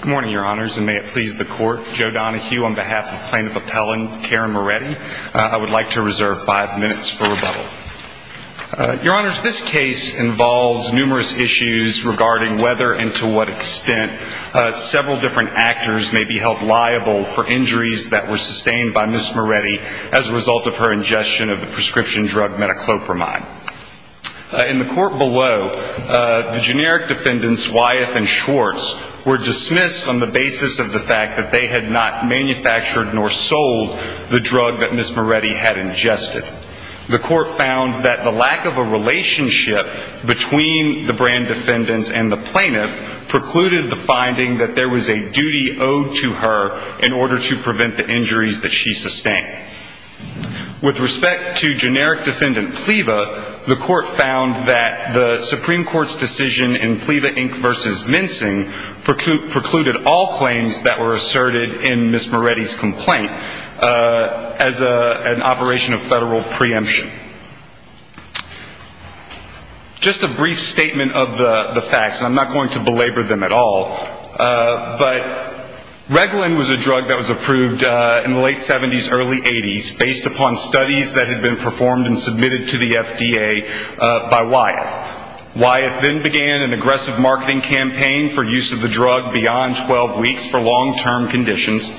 Good morning, your honors, and may it please the court. Joe Donahue on behalf of plaintiff appellant Karen Moretti. I would like to reserve five minutes for rebuttal. Your honors, this case involves numerous issues regarding whether and to what extent several different actors may be held liable for injuries that were sustained by Ms. Moretti as a result of her ingestion of the prescription drug metoclopramide. In the court below, the generic defendants Wyeth and Schwartz were dismissed on the basis of the fact that they had not manufactured nor sold the drug that Ms. Moretti had ingested. The court found that the lack of a relationship between the brand defendants and the plaintiff precluded the finding that there was a duty owed to her in order to prevent the injuries that she sustained. With respect to generic defendant PLEVA, the court found that the Supreme Court's decision in PLEVA Inc. v. Mincing precluded all claims that were asserted in Ms. Moretti's complaint as an operation of federal preemption. Just a brief statement of the facts, and I'm not going to belabor them at all, but Reglan was a drug that was approved in the late 70s, early 80s, based upon studies that had been performed and submitted to the FDA by Wyeth. Wyeth then began an aggressive marketing campaign for use of the drug beyond 12 weeks for long-term conditions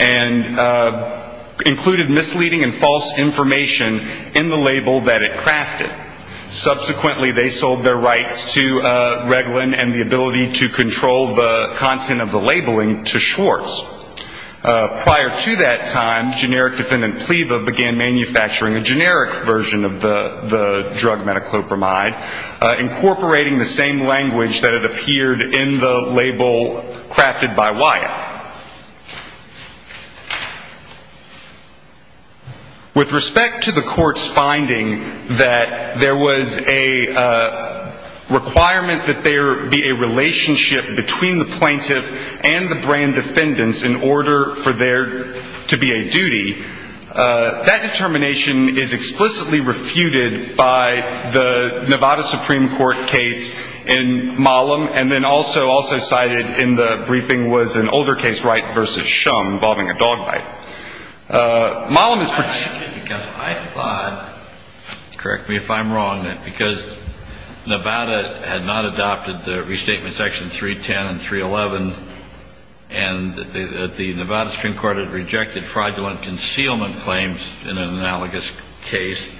and included misleading and false information in the label that it crafted. Subsequently, they sold their rights to Reglan and the ability to control the content of the labeling to Schwartz. Prior to that time, generic defendant PLEVA began manufacturing a generic version of the drug metoclopramide, incorporating the same language that had appeared in the label crafted by Wyeth. With respect to the court's finding that there was a requirement that there be a relationship between the plaintiff and the brand defendants in order for there to be a duty, that determination is explicitly refuted by the Nevada Supreme Court case in Mollem, and then also cited in the briefing was an older case, Wright v. Shum, involving a dog bite. Mollem is particularly concerned because I thought, correct me if I'm wrong, that because Nevada had not adopted the restatement section 310 and 311, and the Nevada Supreme Court had rejected fraudulent concealment claims in an analogous case,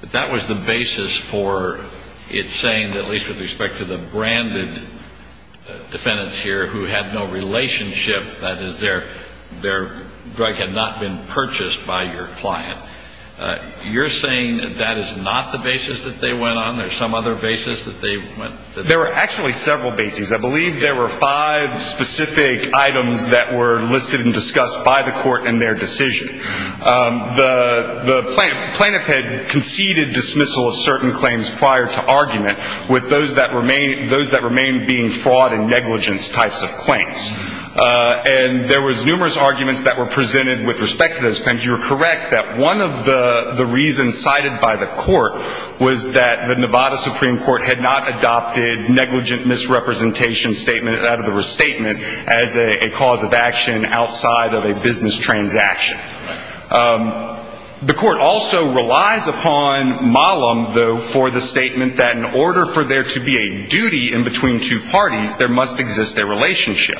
that that was the basis for its saying, at least with respect to the branded defendants here who had no relationship, that is, their drug had not been purchased by your client. You're saying that is not the basis that they went on? There's some other basis that they went on? There were actually several bases. I believe there were five specific items that were listed and discussed by the court in their those that remain being fraud and negligence types of claims. And there was numerous arguments that were presented with respect to those claims. You're correct that one of the reasons cited by the court was that the Nevada Supreme Court had not adopted negligent misrepresentation statement out of the restatement as a cause of action outside of a business transaction. The court also relies upon Mollum, though, for the statement that in order for there to be a duty in between two parties, there must exist a relationship.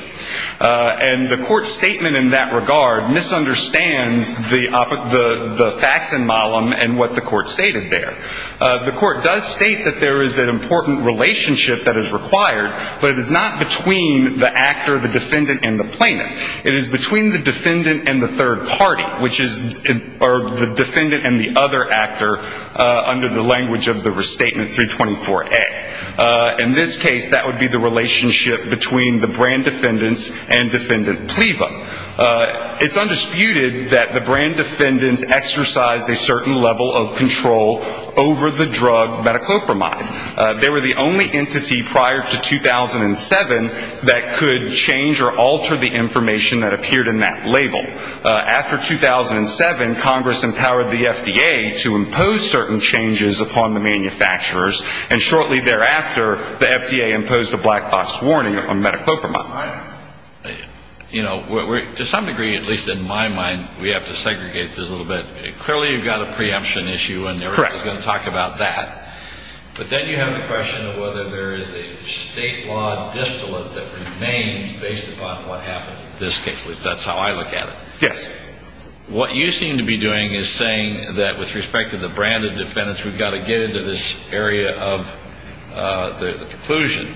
And the court's statement in that regard misunderstands the facts in Mollum and what the court stated there. The court does state that there is an important relationship that is required, but it is not between the actor, the defendant, and the plaintiff. It is between the defendant and the third party, which is the defendant and the other actor under the language of the restatement 324A. In this case, that would be the relationship between the brand defendants and Defendant Pleva. It's undisputed that the brand defendants exercised a certain level of control over the drug metoclopramide. They were the only entity prior to 2007 that could change or alter the information that appeared in that label. After 2007, Congress empowered the FDA to impose certain changes upon the manufacturers, and shortly thereafter, the FDA imposed a black box warning on metoclopramide. All right. You know, to some degree, at least in my mind, we have to segregate this a little bit. Clearly, you've got a preemption issue, and we're going to talk about that. But then you have the question of whether there is a state law distillate that remains based upon what happened in this case, which that's how I look at it. Yes. What you seem to be doing is saying that with respect to the branded defendants, we've got to get into this area of the conclusion,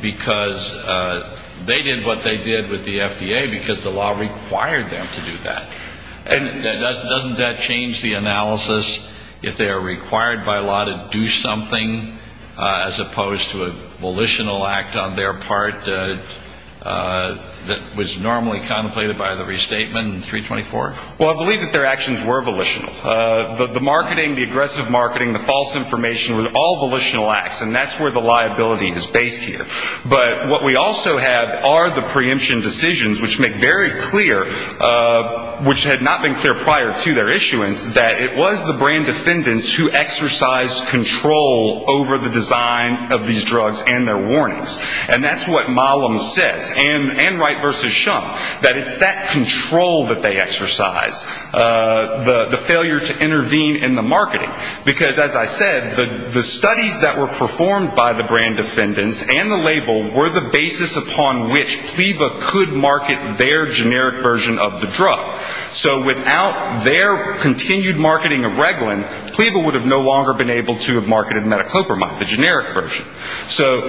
because they did what they did with the FDA because the law required them to do that. And doesn't that change the analysis if they are required by law to do something as opposed to a volitional act on their part that was normally contemplated by the restatement in 324? Well, I believe that their actions were volitional. The marketing, the aggressive marketing, the false information were all volitional acts, and that's where the liability is based here. But what we also have are the preemption decisions, which make very clear, which had not been clear prior to their issuance, that it was the brand defendants who exercised control over the design of these drugs and their warnings. And that's what Malum says, and Wright v. Shum, that it's that control that they exercise, the failure to intervene in the marketing. Because as I said, the studies that were performed by the brand defendants and the label were the basis upon which PLEVA could market their generic version of the drug. So without their continued marketing of Reglan, PLEVA would have no longer been able to have marketed metoclopramide, the generic version. So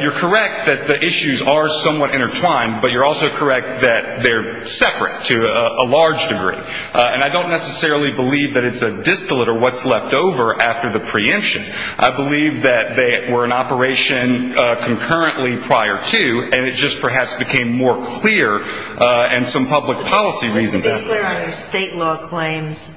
you're correct that the issues are somewhat intertwined, but you're also correct that they're separate to a large degree. And I don't necessarily believe that it's a distillate or what's left over after the preemption. I believe that they were in operation concurrently prior to, and it just perhaps became more clear, and some public policy reasons. I'm just unclear on your state law claims.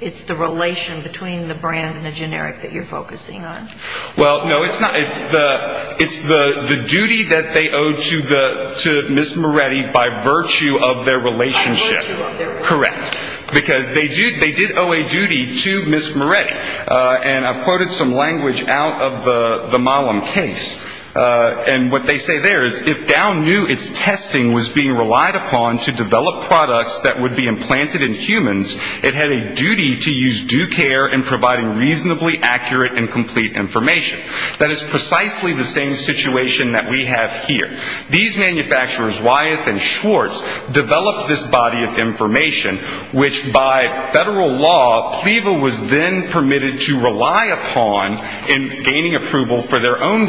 It's the relation between the brand and the generic that you're focusing on? Well, no, it's not. It's the duty that they owe to Ms. Moretti by virtue of their relationship. By virtue of their relationship. Correct. Because they did owe a duty to Ms. Moretti. And I've quoted some language out of the Malum case. And what they say there is, if Dow knew its testing was being relied upon to develop products that would be implanted in humans, it had a duty to use due care in providing reasonably accurate and complete information. That is precisely the same situation that we have here. These manufacturers, Wyeth and Schwartz, developed this body of information, which by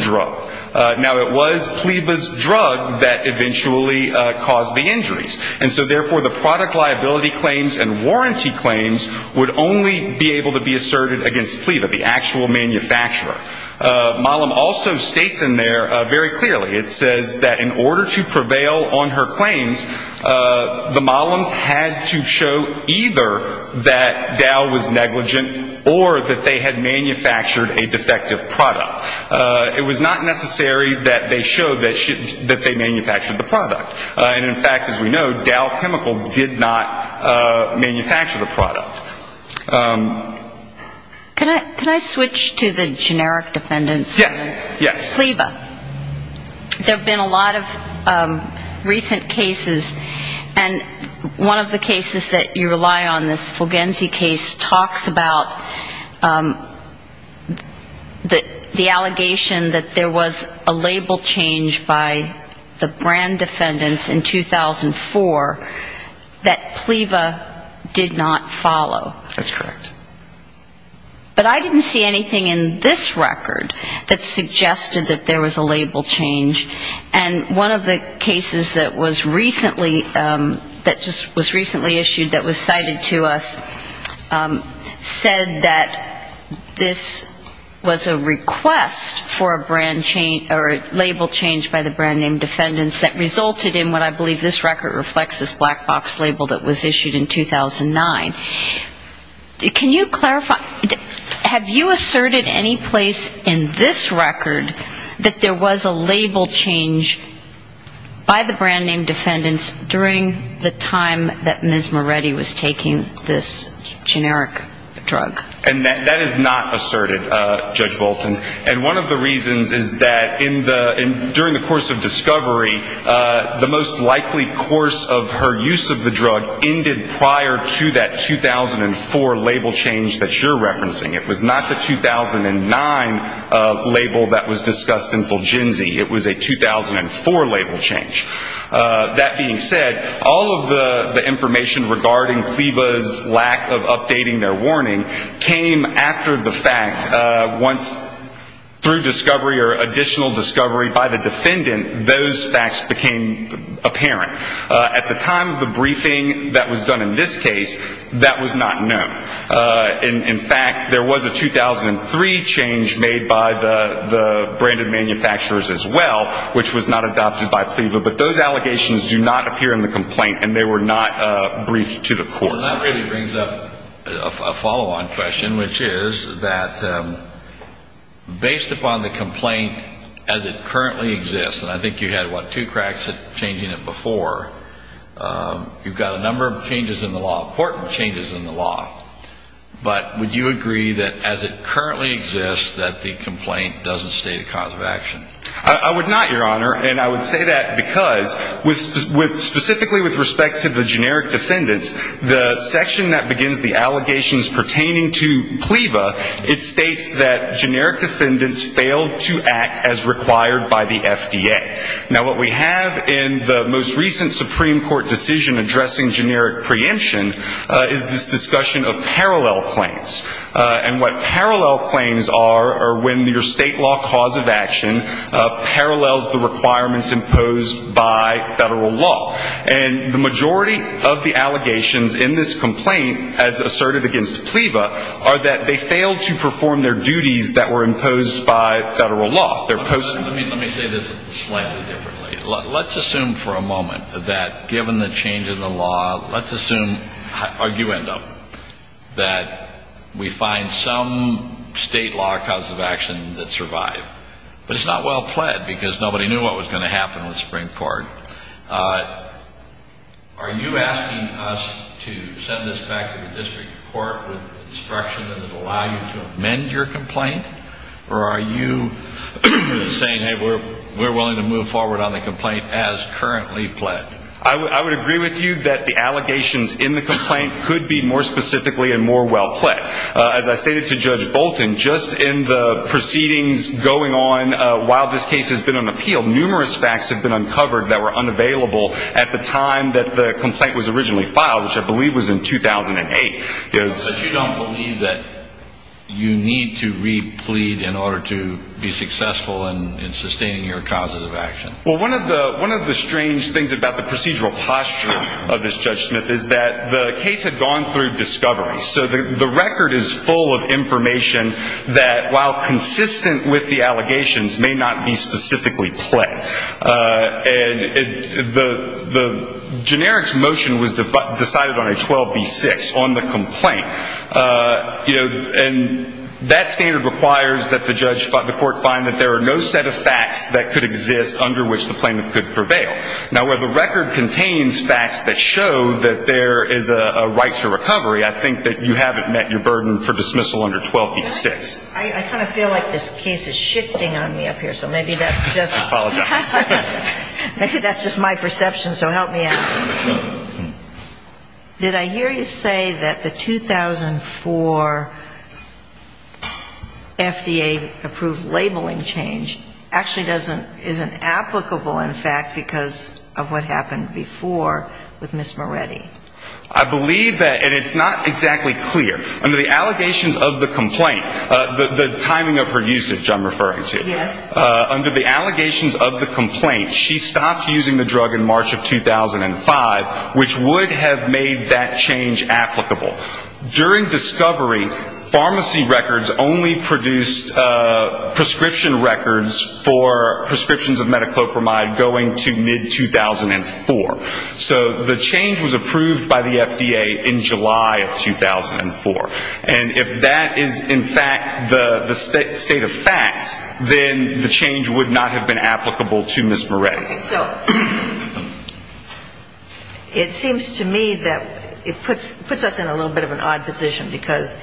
drug. Now, it was PLEVA's drug that eventually caused the injuries. And so therefore, the product liability claims and warranty claims would only be able to be asserted against PLEVA, the actual manufacturer. Malum also states in there very clearly, it says that in order to prevail on her claims, the Malums had to show either that Dow was negligent or that they had manufactured a product. It was not necessary that they show that they manufactured the product. And in fact, as we know, Dow Chemical did not manufacture the product. Can I switch to the generic defendants? Yes. Yes. PLEVA. There have been a lot of recent cases. And one of the cases that you rely on, this Fulgenzi case, talks about the allegation that there was a label change by the brand defendants in 2004 that PLEVA did not follow. That's correct. But I didn't see anything in this record that suggested that there was a label change. And one of the cases that was recently, that just was recently issued that was cited to us, said that this was a request for a brand change or a label change by the brand name defendants that resulted in what I believe this record reflects, this black box label that was issued in 2009. Can you clarify, have you asserted any place in this taking this generic drug? And that is not asserted, Judge Bolton. And one of the reasons is that in the, during the course of discovery, the most likely course of her use of the drug ended prior to that 2004 label change that you're referencing. It was not the 2009 label that was discussed in Fulgenzi. It was a 2004 label change. That being said, all of the information regarding PLEVA's lack of updating their warning came after the fact. Once through discovery or additional discovery by the defendant, those facts became apparent. At the time of the briefing that was done in this case, that was not known. In fact, there was a 2003 change made by the branded manufacturers as well, which was not adopted by PLEVA. But those allegations do not appear in the complaint and they were not briefed to the court. And that really brings up a follow-on question, which is that based upon the complaint as it currently exists, and I think you had, what, two cracks at changing it before, you've got a But would you agree that as it currently exists, that the complaint doesn't state a cause of action? I would not, Your Honor. And I would say that because with specifically with respect to the generic defendants, the section that begins the allegations pertaining to PLEVA, it states that generic defendants failed to act as required by the FDA. Now, what we have in the most recent Supreme Court decision addressing generic preemption is this discussion of parallel claims. And what parallel claims are are when your state law cause of action parallels the requirements imposed by federal law. And the majority of the allegations in this complaint as asserted against PLEVA are that they failed to perform their duties that were imposed by federal law. Let me say this slightly differently. Let's assume for a moment that given the change in the law, let's assume, arguendo, that we find some state law cause of action that survived. But it's not well pled because nobody knew what was going to happen with Supreme Court. Are you asking us to send this back to the district court with instruction that it allow you to amend your complaint? Or are you saying, hey, we're willing to move forward on the complaint as currently pled? I would agree with you that the allegations in the complaint could be more specifically and more well pled. As I stated to Judge Bolton, just in the proceedings going on while this case has been on appeal, numerous facts have been uncovered that were unavailable at the time that the complaint was originally filed, which I believe was in 2008. But you don't believe that you need to re-plead in order to be successful in sustaining your causes of action? Well, one of the strange things about the procedural posture of this Judge Smith is that the case had gone through discovery. So the record is full of information that, while consistent with the allegations, may not be specifically pled. And the generics motion was decided on a 12B6 on the complaint. And that standard requires that the court find that there are no set of facts that could exist under which the plaintiff could prevail. Now, where the record contains facts that show that there is a right to recovery, I think that you haven't met your burden for dismissal under 12B6. I kind of feel like this case is shifting on me up here, so maybe that's just my perception, so help me out. Did I hear you say that the 2004 FDA-approved labeling change actually isn't applicable, in fact, because of what happened before with Ms. Moretti? I believe that, and it's not exactly clear. Under the allegations of the complaint, the timing of her usage I'm referring to, under the allegations of the complaint, she stopped using the drug in March of 2005, which would have made that change applicable. During discovery, pharmacy records only produced prescription records for prescriptions of metoclopramide going to mid-2004. So the change was approved by the FDA in July of 2004. And if that is, in fact, the state of facts, then the change would not have been applicable to Ms. Moretti. So it seems to me that it puts us in a little bit of an odd position, because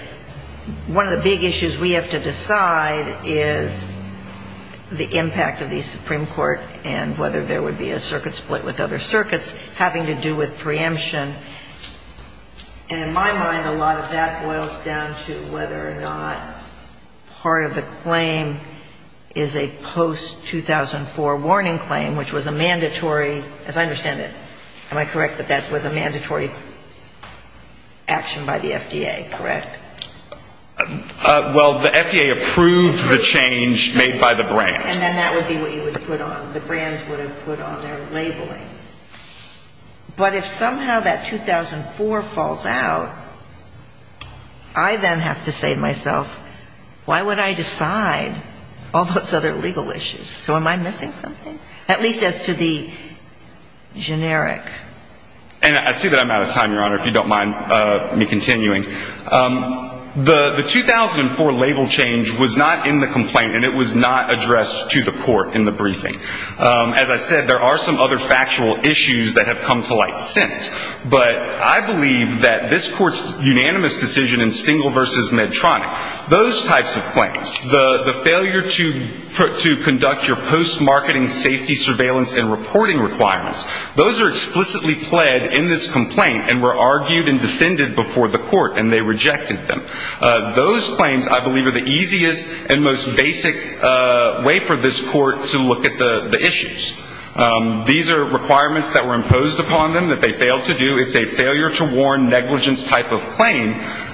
one of the big issues we have to decide is the impact of the Supreme Court and whether there would be a circuit split with other circuits having to do with preemption. And in my mind, a lot of that boils down to whether or not part of the claim is a post-2004 warning claim, which was a mandatory, as I understand it, am I correct that that was a mandatory action by the FDA? Correct? Well, the FDA approved the change made by the brands. And then that would be what you would put on, the brands would have put on their labeling. But if somehow that 2004 falls out, I then have to say to myself, why would I decide all those other legal issues? So am I missing something? At least as to the generic. And I see that I'm out of time, Your Honor, if you don't mind me continuing. The 2004 label change was not in the complaint and it was not addressed to the court in the briefing. As I said, there are some other factual issues that have come to light since. But I believe that this court's unanimous decision in Stengel versus Medtronic, those types of claims, the failure to conduct your post-marketing safety surveillance and reporting requirements, those are explicitly pled in this complaint and were argued and defended before the court and they rejected them. Those claims, I believe, are the easiest and most basic way for this court to look at the issues. These are requirements that were imposed upon them that they failed to do. It's a failure to warn negligence type of claim.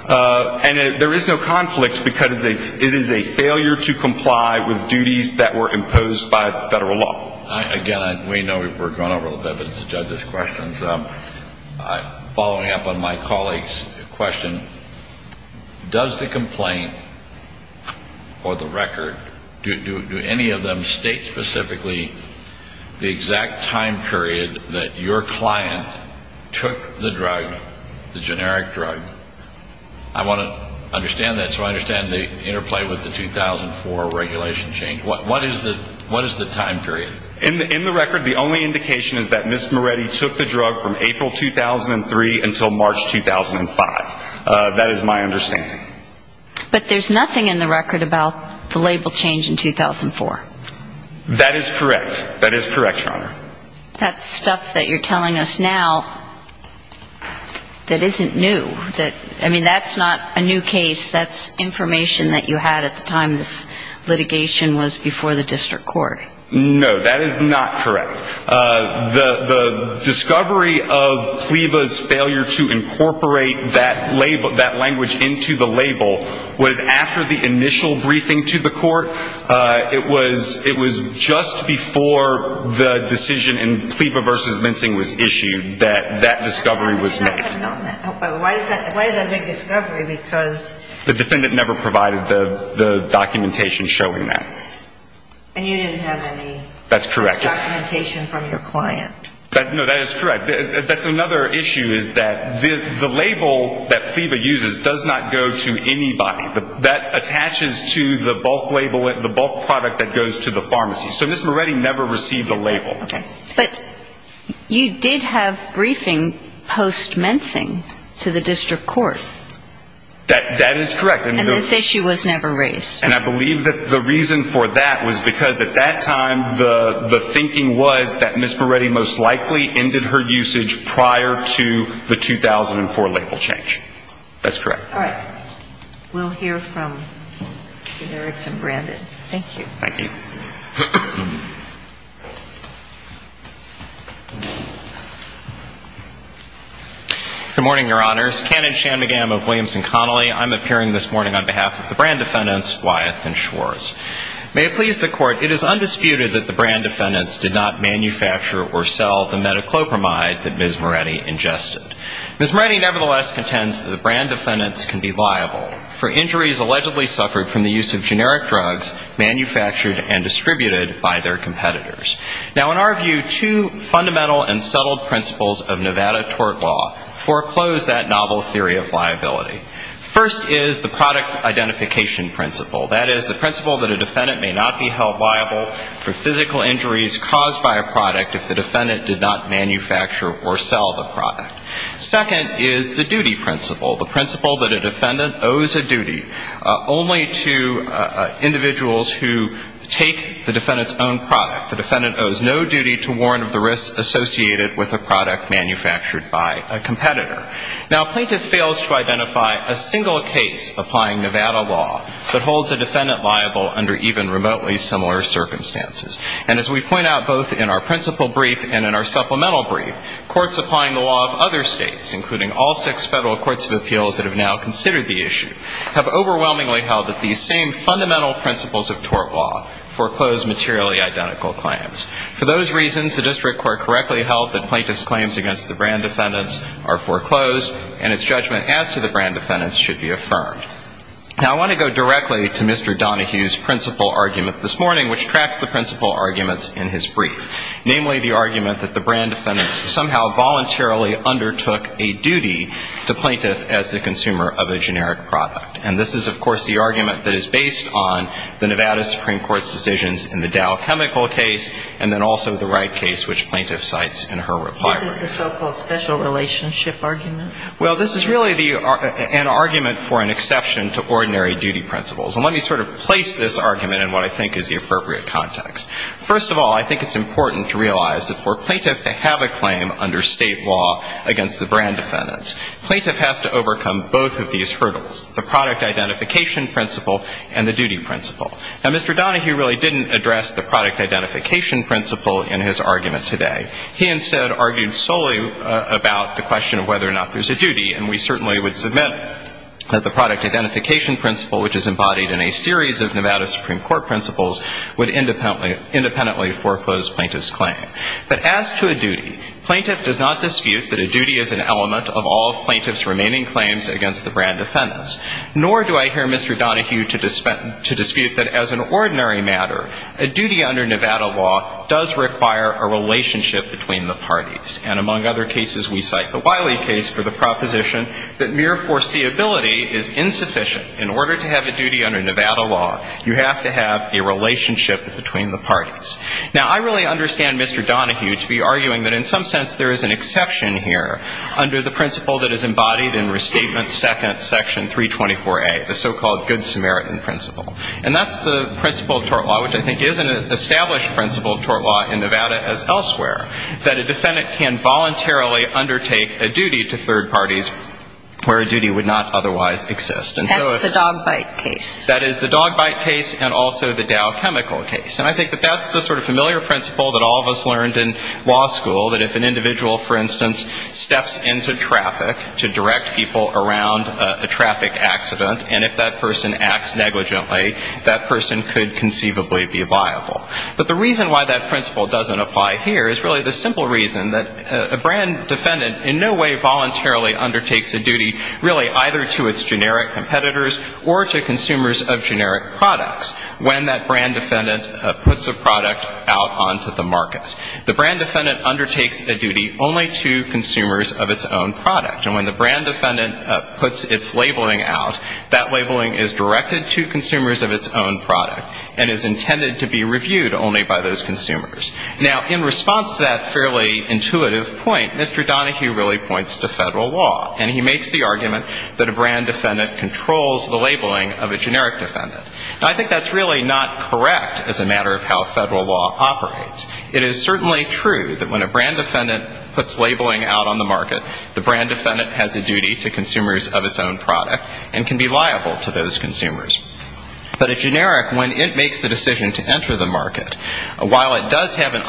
And there is no conflict because it is a failure to comply with duties that were imposed by federal law. Again, we know we've gone over a little bit, but it's the judge's questions. Following up on my state specifically the exact time period that your client took the drug, the generic drug. I want to understand that so I understand the interplay with the 2004 regulation change. What is the time period? In the record, the only indication is that Ms. Moretti took the drug from April 2003 until March 2005. That is my understanding. But there's nothing in the record about the label change in that case. That is correct. That is correct, Your Honor. That stuff that you're telling us now, that isn't new. I mean, that's not a new case. That's information that you had at the time this litigation was before the district court. No, that is not correct. The discovery of PLEVA's failure to incorporate that language into the case was just before the decision in PLEVA v. Mincing was issued that that discovery was made. Why is that a big discovery? The defendant never provided the documentation showing that. And you didn't have any documentation from your client? No, that is correct. That's another issue is that the label that PLEVA uses does not go to pharmacies. So Ms. Moretti never received a label. But you did have briefing post-Mincing to the district court. That is correct. And this issue was never raised. And I believe that the reason for that was because at that time, the thinking was that Ms. Moretti most likely ended her usage prior to the 2004 label change. That's correct. All right. We'll hear from Eric and Brandon. Thank you. Thank you. Good morning, Your Honors. Kenneth Shanmugam of Williamson Connolly. I'm appearing this morning on behalf of the brand defendants Wyeth and Schwarz. May it please the Court, it is undisputed that the brand defendants did not manufacture or sell the metoclopramide that Ms. Moretti ingested. Ms. Moretti nevertheless contends that the brand defendants can be liable for injuries allegedly suffered from the use of generic drugs manufactured and distributed by their competitors. Now, in our view, two fundamental and subtle principles of Nevada tort law foreclose that novel theory of liability. First is the product identification principle. That is, the principle that a defendant may not be held liable for physical injuries caused by a product if the defendant did not manufacture or sell the product. Second is the duty principle, the principle that a defendant owes a duty only to individuals who take the defendant's own product. The defendant owes no duty to warrant of the risks associated with a product manufactured by a competitor. Now, a plaintiff fails to identify a single case applying Nevada law that holds a defendant liable under even remotely similar circumstances. And as we point out both in our principle brief and in our supplemental brief, courts applying the law of other states, including all six federal courts of appeals that have now considered the issue, have overwhelmingly held that these same fundamental principles of tort law foreclose materially identical claims. For those reasons, the district court correctly held that plaintiff's claims against the brand defendants are foreclosed and its judgment as to the brand defendants should be affirmed. Now, I want to go directly to Mr. Donohue's principle argument this morning, which tracks the principle arguments in his brief, namely the argument that the brand defendants somehow voluntarily undertook a duty to plaintiff as the consumer of a generic product. And this is, of course, the argument that is based on the Nevada Supreme Court's decisions in the Dow Chemical case and then also the Wright case, which plaintiff cites in her reply brief. This is the so-called special relationship argument? Well, this is really the – an argument for an exception to ordinary duty principles. And let me sort of place this argument in what I think is the appropriate context. First of all, I think it's important to realize that for plaintiff to have a claim under state law against the brand defendants, plaintiff has to overcome both of these hurdles, the product identification principle and the duty principle. Now, Mr. Donohue really didn't address the product identification principle in his argument today. He instead argued solely about the question of whether or not there's a duty. And we certainly would submit that the product identification principle, which is embodied in a series of Nevada Supreme Court principles, would independently foreclose plaintiff's claim. But as to a duty, plaintiff does not dispute that a duty is an element of all plaintiff's remaining claims against the brand defendants, nor do I hear Mr. Donohue to dispute that as an ordinary matter, a duty under Nevada law does require a relationship between the parties. And among other cases, we cite the Wiley case for the proposition that mere foreseeability is insufficient. In order to have a duty under Nevada law, you have to have a relationship between the parties. Now, I really understand Mr. Donohue to be arguing that in some sense there is an exception here under the principle that is embodied in Restatement 2nd, Section 324A, the so-called Good Samaritan principle. And that's the principle of tort law, which I think is an established principle of tort law in Nevada as elsewhere, that a defendant can voluntarily undertake a duty to third parties. That's the dog bite case. That is the dog bite case and also the Dow Chemical case. And I think that that's the sort of familiar principle that all of us learned in law school, that if an individual, for instance, steps into traffic to direct people around a traffic accident, and if that person acts negligently, that person could conceivably be liable. But the reason why that principle doesn't apply here is really the simple reason that a brand defendant in no way voluntarily undertakes a duty, really, either to its generic competitors or to consumers of generic products when that brand defendant puts a product out onto the market. The brand defendant undertakes a duty only to consumers of its own product. And when the brand defendant puts its labeling out, that labeling is directed to consumers of its own product and is intended to be reviewed only by those consumers. Now, in response to that fairly intuitive point, Mr. Donohue really points to Federal law and he makes the argument that a brand defendant controls the labeling of a generic defendant. And I think that's really not correct as a matter of how Federal law operates. It is certainly true that when a brand defendant puts labeling out on the market, the brand defendant has a duty to consumers of its own product and can be liable to those consumers. But a generic, when it makes the decision to enter the market, while it does have an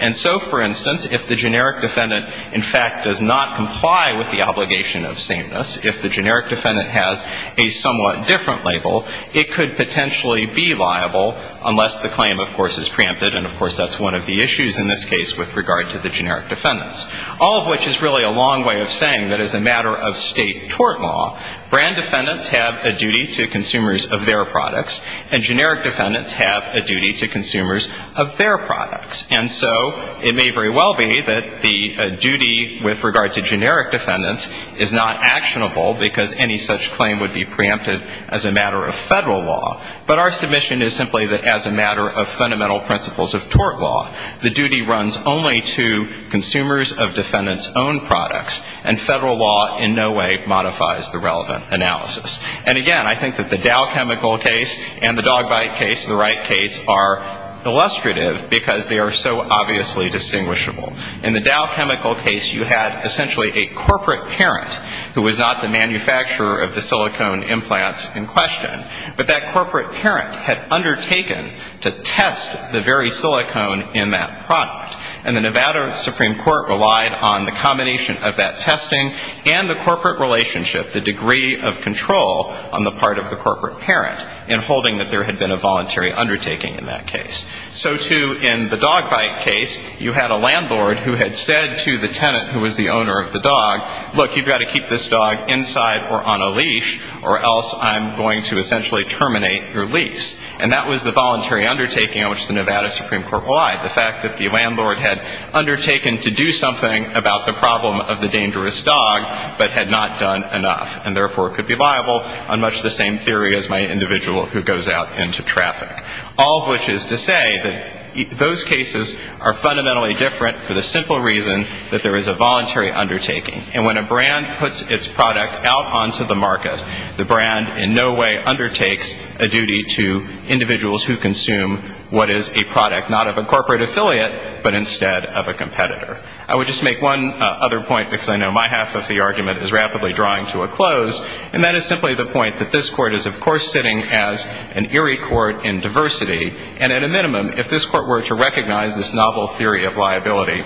And so, for instance, if the generic defendant, in fact, does not comply with the obligation of sameness, if the generic defendant has a somewhat different label, it could potentially be liable unless the claim, of course, is preempted. And, of course, that's one of the issues in this case with regard to the generic defendants, all of which is really a long way of saying that as a matter of State tort law, brand defendants have a duty to consumers of their products and generic defendants have a duty to consumers of their products. And so it may very well be that the duty with regard to generic defendants is not actionable because any such claim would be preempted as a matter of Federal law. But our submission is simply that as a matter of fundamental principles of tort law, the duty runs only to consumers of defendants' own products, and Federal law in no way modifies the relevant analysis. And, again, I think that the Dow chemical case and the dog bite case, the Wright case, are illustrative because they are so obviously distinguishable. In the Dow chemical case, you had essentially a corporate parent who was not the manufacturer of the silicone implants in question, but that corporate parent had undertaken to test the very silicone in that product. And the Nevada Supreme Court relied on the combination of that testing and the corporate relationship, the degree of control on the part of the corporate parent in holding that there had been a voluntary undertaking in that case. So, too, in the dog bite case, you had a landlord who had said to the tenant who was the owner of the dog, look, you've got to keep this dog inside or on a leash or else I'm going to essentially terminate your lease. And that was the voluntary undertaking on which the Nevada Supreme Court relied, the fact that the landlord had undertaken to do something about the problem of the dangerous dog but had not done enough and, therefore, could be liable on much the same theory as my individual who goes out into traffic. All of which is to say that those cases are fundamentally different for the simple reason that there is a voluntary undertaking. And when a brand puts its product out onto the market, the brand in no way undertakes a duty to individuals who consume what is a product not of a corporate affiliate but instead of a competitor. I would just make one other point because I know my half of the argument is rapidly drawing to a close. And that is simply the point that this Court is, of course, sitting as an eerie Court in diversity. And at a minimum, if this Court were to recognize this novel theory of liability,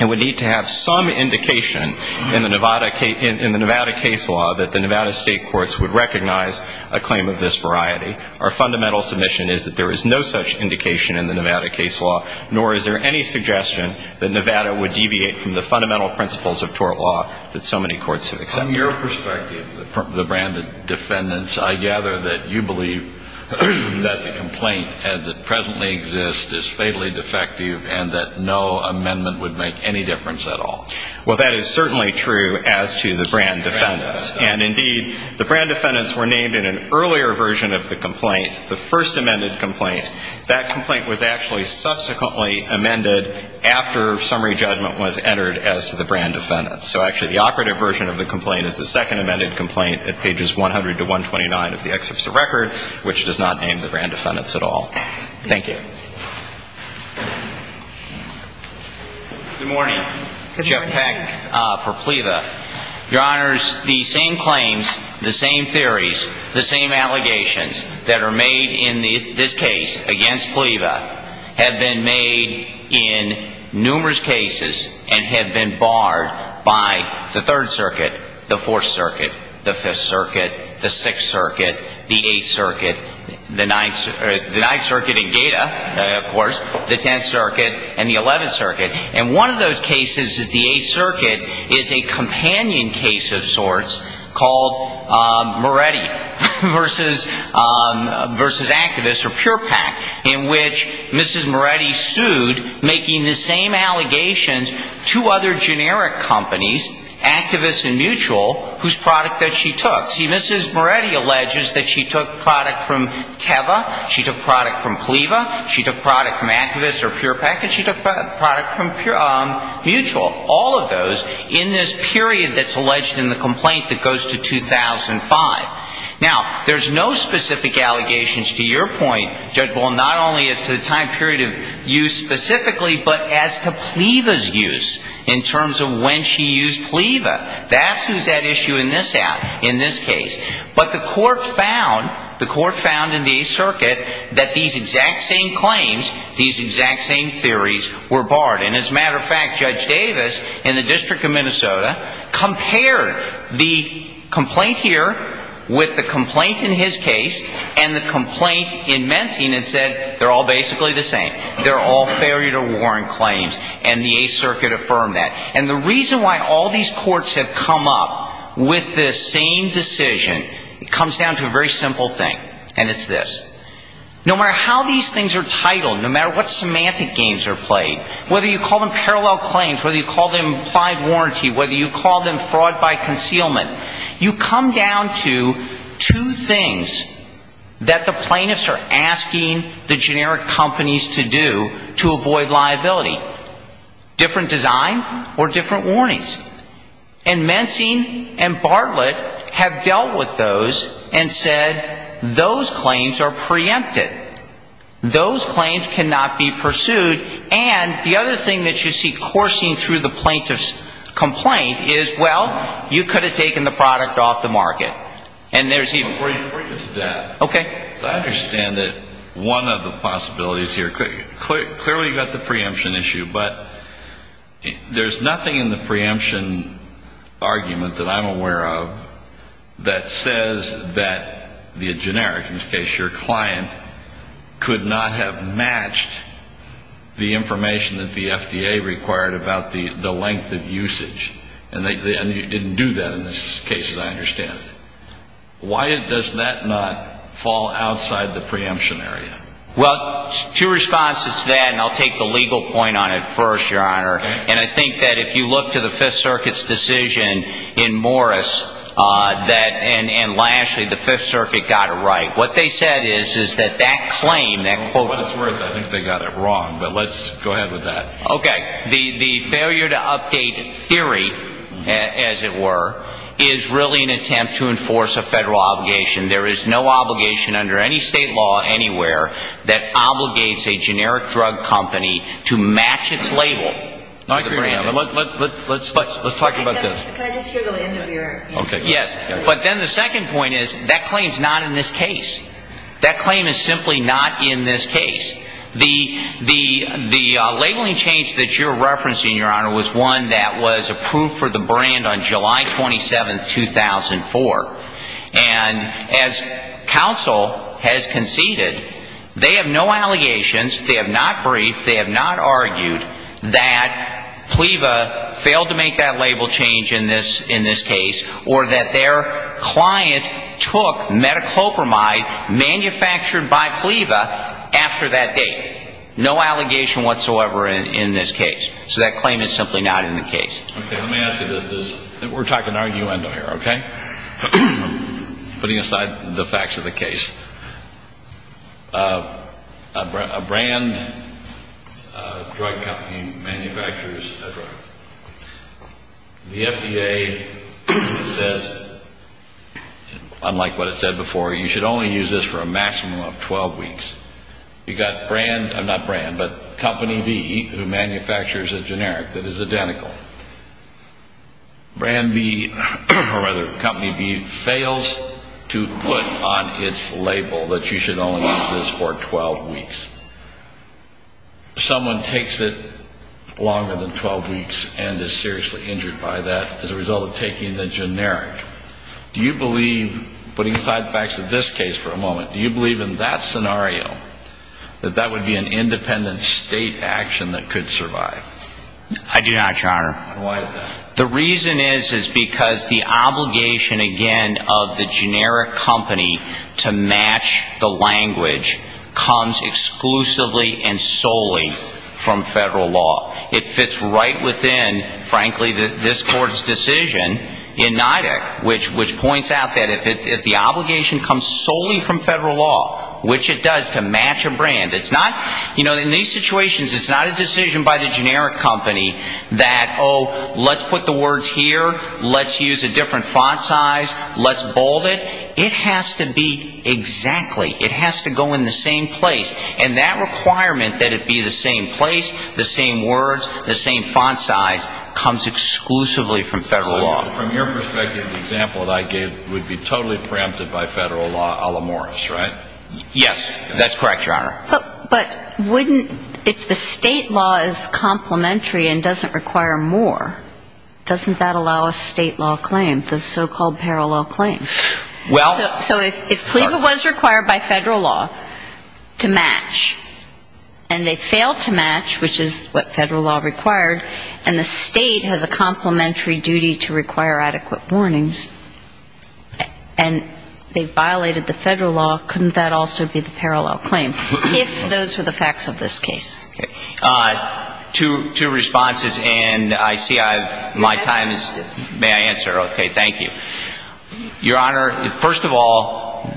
it would need to have some indication in the Nevada case law that the Nevada state courts would recognize a claim of this variety. Our fundamental submission is that there is no such indication in the Nevada case law, nor is there any suggestion that Nevada would deviate from the fundamental principles of tort law that so many courts have accepted. On your perspective, the brand defendants, I gather that you believe that the complaint as it presently exists is fatally defective and that no amendment would make any difference at all. Well, that is certainly true as to the brand defendants. And indeed, the brand defendants were named in an earlier version of the complaint, the first amended complaint. That complaint was actually subsequently amended after summary judgment was entered as to the brand defendants. So actually, the operative version of the complaint is the second amended complaint at pages 100 to 129 of the excerpt of the record, which does not name the brand defendants at all. Thank you. Good morning. Good morning. Jeff Peck for PLEVA. Your Honors, the same claims, the same theories, the same allegations that are made in this case against PLEVA have been made in numerous cases and have been barred by the Third Circuit, the Fourth Circuit, the Fifth Circuit, the Sixth Circuit, the Eighth Circuit, the Ninth Circuit in Gaeta, of course, the Tenth Circuit, and the Eleventh Circuit. And one of those cases is the Eighth Circuit is a companion case of sorts called Moretti versus activists or PurePAC, in which Mrs. Moretti sued, making the same allegations to other generic companies, Activist and Mutual, whose product that she took. See, Mrs. Moretti alleges that she took product from TEVA, she took product from PLEVA, she took product from activists or PurePAC, and she took product from Mutual. All of those in this period that's alleged in the complaint that goes to 2005. Now, there's no specific allegations to your point, Judge Bull, not only as to the time period of use specifically, but as to PLEVA's use in terms of when she used PLEVA. That's who's at issue in this out, in this case. But the Court found, the Court found in the Eighth Circuit that these exact same claims, these exact same theories were barred. And as a matter of fact, Judge Davis in the District of Minnesota compared the complaint here with the complaint in his case and the complaint in Mensing and said, they're all basically the same. They're all failure to warrant claims. And the Eighth Circuit affirmed that. And the reason why all these courts have come up with this same decision, it comes down to a very simple thing. And it's this. No matter how these things are titled, no matter what semantic games are played, whether you call them parallel claims, whether you call them implied warranty, whether you call them fraud by concealment, you come down to two things that the plaintiffs are asking the generic companies to do to avoid liability. Different design or different warnings. And Mensing and Bartlett have dealt with those and said, those claims are preempted. Those claims cannot be pursued. And the other thing that you see coursing through the plaintiff's complaint is, well, you could have taken the product off the market. And there's even ---- Before you bring us to that, I understand that one of the possibilities here, clearly you've got the preemption issue, but there's nothing in the preemption argument that I'm sure you're aware of. And that is that the generic, in this case your client, could not have matched the information that the FDA required about the length of usage. And you didn't do that in this case, as I understand it. Why does that not fall outside the preemption area? Well, two responses to that, and I'll take the legal point on it first, Your Honor. And I think that if you look to the Fifth Circuit's decision in Morris, that, and lastly, the Fifth Circuit got it right. What they said is, is that that claim, that quote ---- I think they got it wrong, but let's go ahead with that. Okay. The failure to update theory, as it were, is really an attempt to enforce a federal obligation. There is no obligation under any state law anywhere that obligates a generic drug company to match its label to the product. Let's talk about that. Can I just hear the end of your answer? Yes. But then the second point is, that claim is not in this case. That claim is simply not in this case. The labeling change that you're referencing, Your Honor, was one that was approved for the brand on July 27, 2004. And as counsel has conceded, they have no allegation whatsoever that PLEVA failed to make that label change in this case, or that their client took metoclopramide manufactured by PLEVA after that date. No allegation whatsoever in this case. So that claim is simply not in the case. Okay. Let me ask you this. We're talking arguendo here, okay? Putting aside the facts of the drug. The FDA says, unlike what it said before, you should only use this for a maximum of 12 weeks. You've got brand, not brand, but Company B, who manufactures a generic that is identical. Brand B, or rather, Company B, fails to put on its label that you should only use this for 12 weeks. Someone takes it longer than 12 weeks and is seriously injured by that as a result of taking the generic. Do you believe, putting aside the facts of this case for a moment, do you believe in that scenario, that that would be an independent state action that could survive? I do not, Your Honor. And why is that? The reason is, is because the obligation, again, of the generic company to match the language comes exclusively and solely from federal law. It fits right within, frankly, this Court's decision in NIDIC, which points out that if the obligation comes solely from federal law, which it does, to match a brand, it's not, you know, in these situations, it's not a decision by the generic company that, oh, let's put the words here, let's use a different font size, let's bold it. It has to be exactly, it has to go in the same place. And that requirement that it be the same place, the same words, the same font size comes exclusively from federal law. From your perspective, the example that I gave would be totally preempted by federal law a la Morris, right? Yes, that's correct, Your Honor. But wouldn't, if the state law is complementary and doesn't require more, doesn't that allow a state law claim, the so-called parallel claim? Well So if PLEVA was required by federal law to match, and they failed to match, which is what federal law required, and the state has a complementary duty to require adequate warnings, and they violated the federal law, couldn't that also be the parallel claim, if those were the facts of this case? Two responses, and I see I've, my time is, may I answer? Okay, thank you. Your Honor, first of all,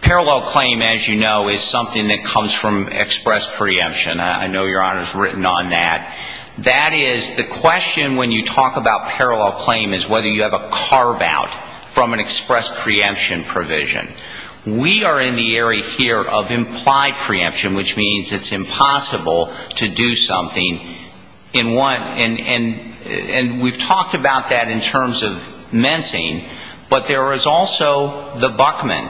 parallel claim, as you know, is something that comes from express preemption. I know Your Honor's written on that. That is, the question when you talk about parallel claim is whether you have a carve-out from an express preemption provision. We are in the area here of implied preemption, which means it's impossible to do something in one, and we've talked about that in terms of mencing, but there is also the Buckman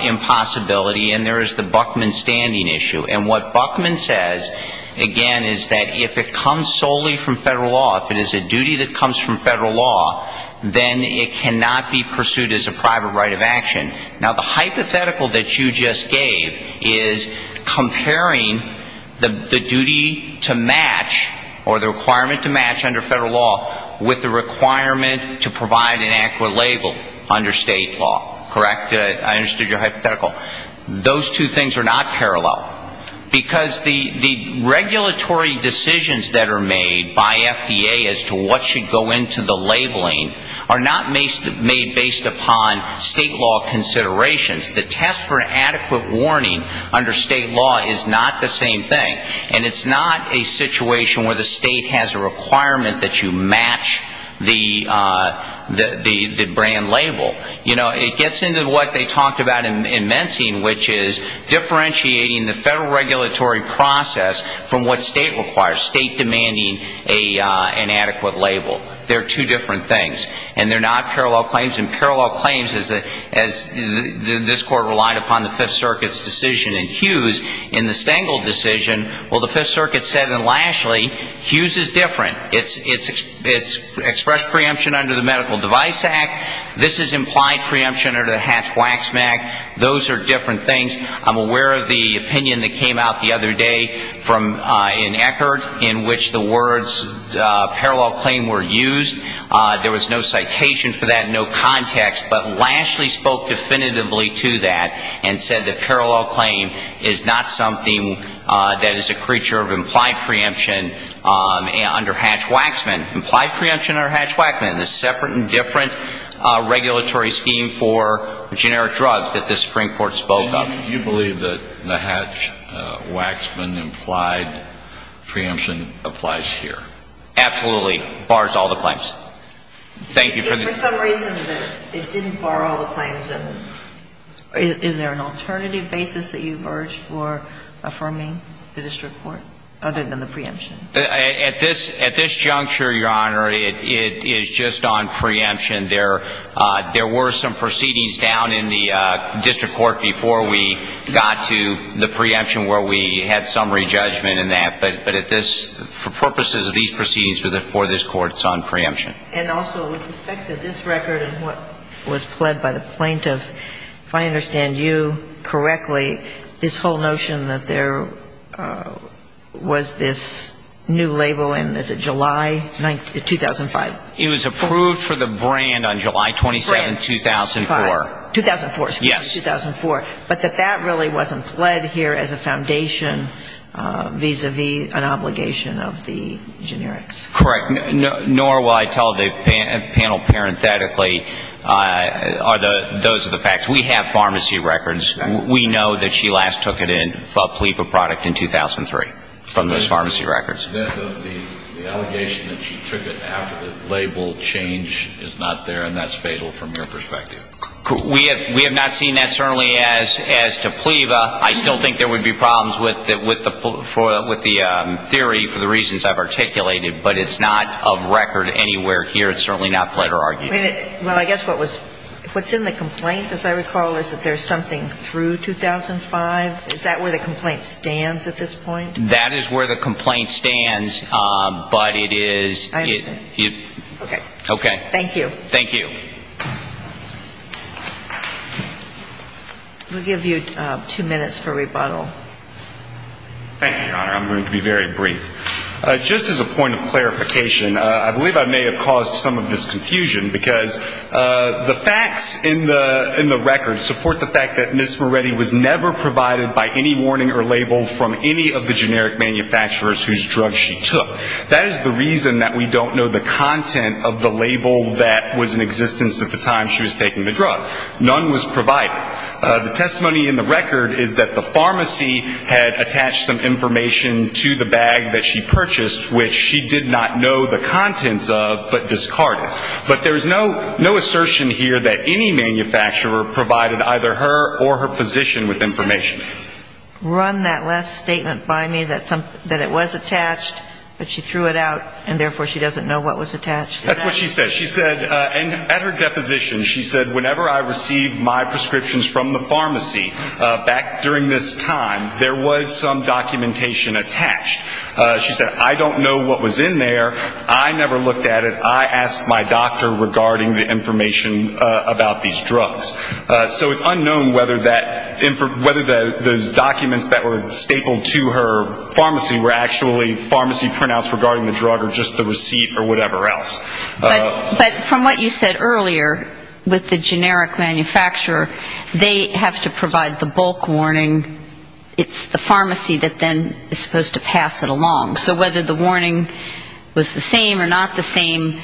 impossibility, and there is the Buckman standing issue. And what Buckman says, again, is that if it comes solely from federal law, if it is a duty that comes from federal law, then it cannot be pursued as a private right of action. Now, the hypothetical that you just gave is comparing the duty to match, or the requirement to match under federal law, with the requirement to provide an accurate label under state law, correct? I understood your hypothetical. Those two things are not parallel, because the regulatory decisions that are made by FDA as to what should go into the labeling are not made based upon state law considerations. The test for adequate warning under state law is not the same thing, and it's not a situation where the state has a requirement that you match the brand label. You know, it gets into what they talked about in mencing, which is differentiating the federal regulatory process from what state requires, state demanding an adequate label. They're two different things, and they're not parallel claims. And parallel claims, as this Court relied upon the Fifth Circuit's decision in Hughes, in the Stengel decision, well, the Fifth Circuit said in Lashley, Hughes is different. It's expressed preemption under the Medical Device Act. This is implied preemption under the Hatch-Waxman Act. Those are different opinions that came out the other day from, in Eckert, in which the words parallel claim were used. There was no citation for that, no context, but Lashley spoke definitively to that and said that parallel claim is not something that is a creature of implied preemption under Hatch-Waxman. Implied preemption under Hatch-Waxman, a separate and different regulatory scheme for generic drugs that the Supreme Court spoke of. So you believe that the Hatch-Waxman implied preemption applies here? Absolutely. Bars all the claims. Thank you for the question. If for some reason it didn't bar all the claims, then is there an alternative basis that you've urged for affirming the district court, other than the preemption? At this juncture, Your Honor, it is just on preemption. There were some proceedings down in the district court before we got to the preemption where we had summary judgment in that. But at this, for purposes of these proceedings for this court, it's on preemption. And also with respect to this record and what was pled by the plaintiff, if I understand you correctly, this whole notion that there was this new label in, is it July 2005? It was approved for the brand on July 27th, 2004. 2004, excuse me, 2004. Yes. But that that really wasn't pled here as a foundation vis-a-vis an obligation of the generics? Correct. Nor will I tell the panel parenthetically, those are the facts. We have pharmacy records. We know that she last took it in for a plea for product in 2003 from those pharmacy records. Then the allegation that she took it after the label change is not there, and that's We have not seen that certainly as to PLEVA. I still think there would be problems with the theory for the reasons I've articulated, but it's not of record anywhere here. It's certainly not pled or argued. Well, I guess what's in the complaint, as I recall, is that there's something through 2005? Is that where the complaint stands at this point? That is where the complaint stands, but it is Okay. Okay. Thank you. We'll give you two minutes for rebuttal. Thank you, Your Honor. I'm going to be very brief. Just as a point of clarification, I believe I may have caused some of this confusion, because the facts in the record support the fact that Ms. Moretti was never provided by any warning or label from any of the generic manufacturers whose drugs she took. That is the reason that we don't know the content of the label that was in existence at the time she was taking the drug. None was provided. The testimony in the record is that the pharmacy had attached some information to the bag that she purchased, which she did not know the contents of but discarded. But there is no assertion here that any manufacturer provided either her or her physician with information. Did she run that last statement by me that it was attached, but she threw it out, and therefore she doesn't know what was attached? That's what she said. She said at her deposition, she said whenever I received my prescriptions from the pharmacy back during this time, there was some documentation attached. She said, I don't know what was in there. I never looked at it. I asked my doctor regarding the information about these drugs. So it's unknown whether those documents that were stapled to her pharmacy were actually pharmacy printouts regarding the drug or just the receipt or whatever else. But from what you said earlier with the generic manufacturer, they have to provide the bulk warning. It's the pharmacy that then is supposed to pass it along. So whether the warning was the same or not the same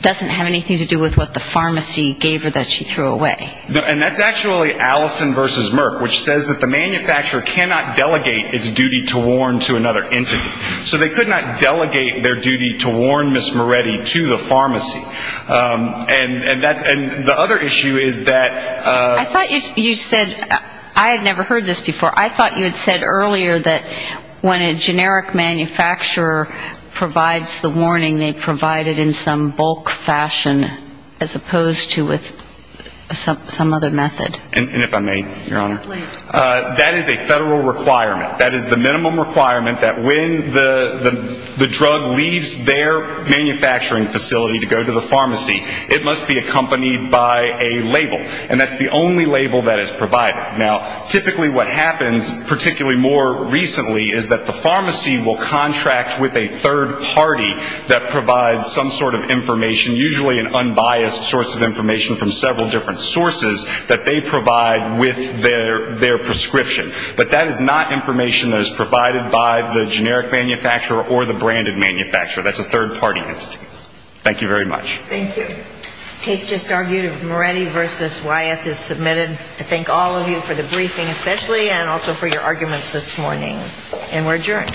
doesn't have anything to do with what the pharmacy gave her that she threw away. And that's actually Allison versus Merck, which says that the manufacturer cannot delegate its duty to warn to another entity. So they could not delegate their duty to warn Ms. Moretti to the pharmacy. And the other issue is that I thought you said, I had never heard this before, I thought you had said earlier that when a generic manufacturer provides the warning, they provide it in some bulk fashion as opposed to with some other method. And if I may, Your Honor, that is a federal requirement. That is the minimum requirement that when the drug leaves their manufacturing facility to go to the pharmacy, it must be accompanied by a label. And that's the only label that is provided. Now, typically what happens, particularly more recently, is that the pharmacy provides some sort of information, usually an unbiased source of information from several different sources, that they provide with their prescription. But that is not information that is provided by the generic manufacturer or the branded manufacturer. That's a third-party entity. Thank you very much. Thank you. Case just argued of Moretti versus Wyeth is submitted. I thank all of you for the briefing especially and also for your arguments this morning. And we're adjourned.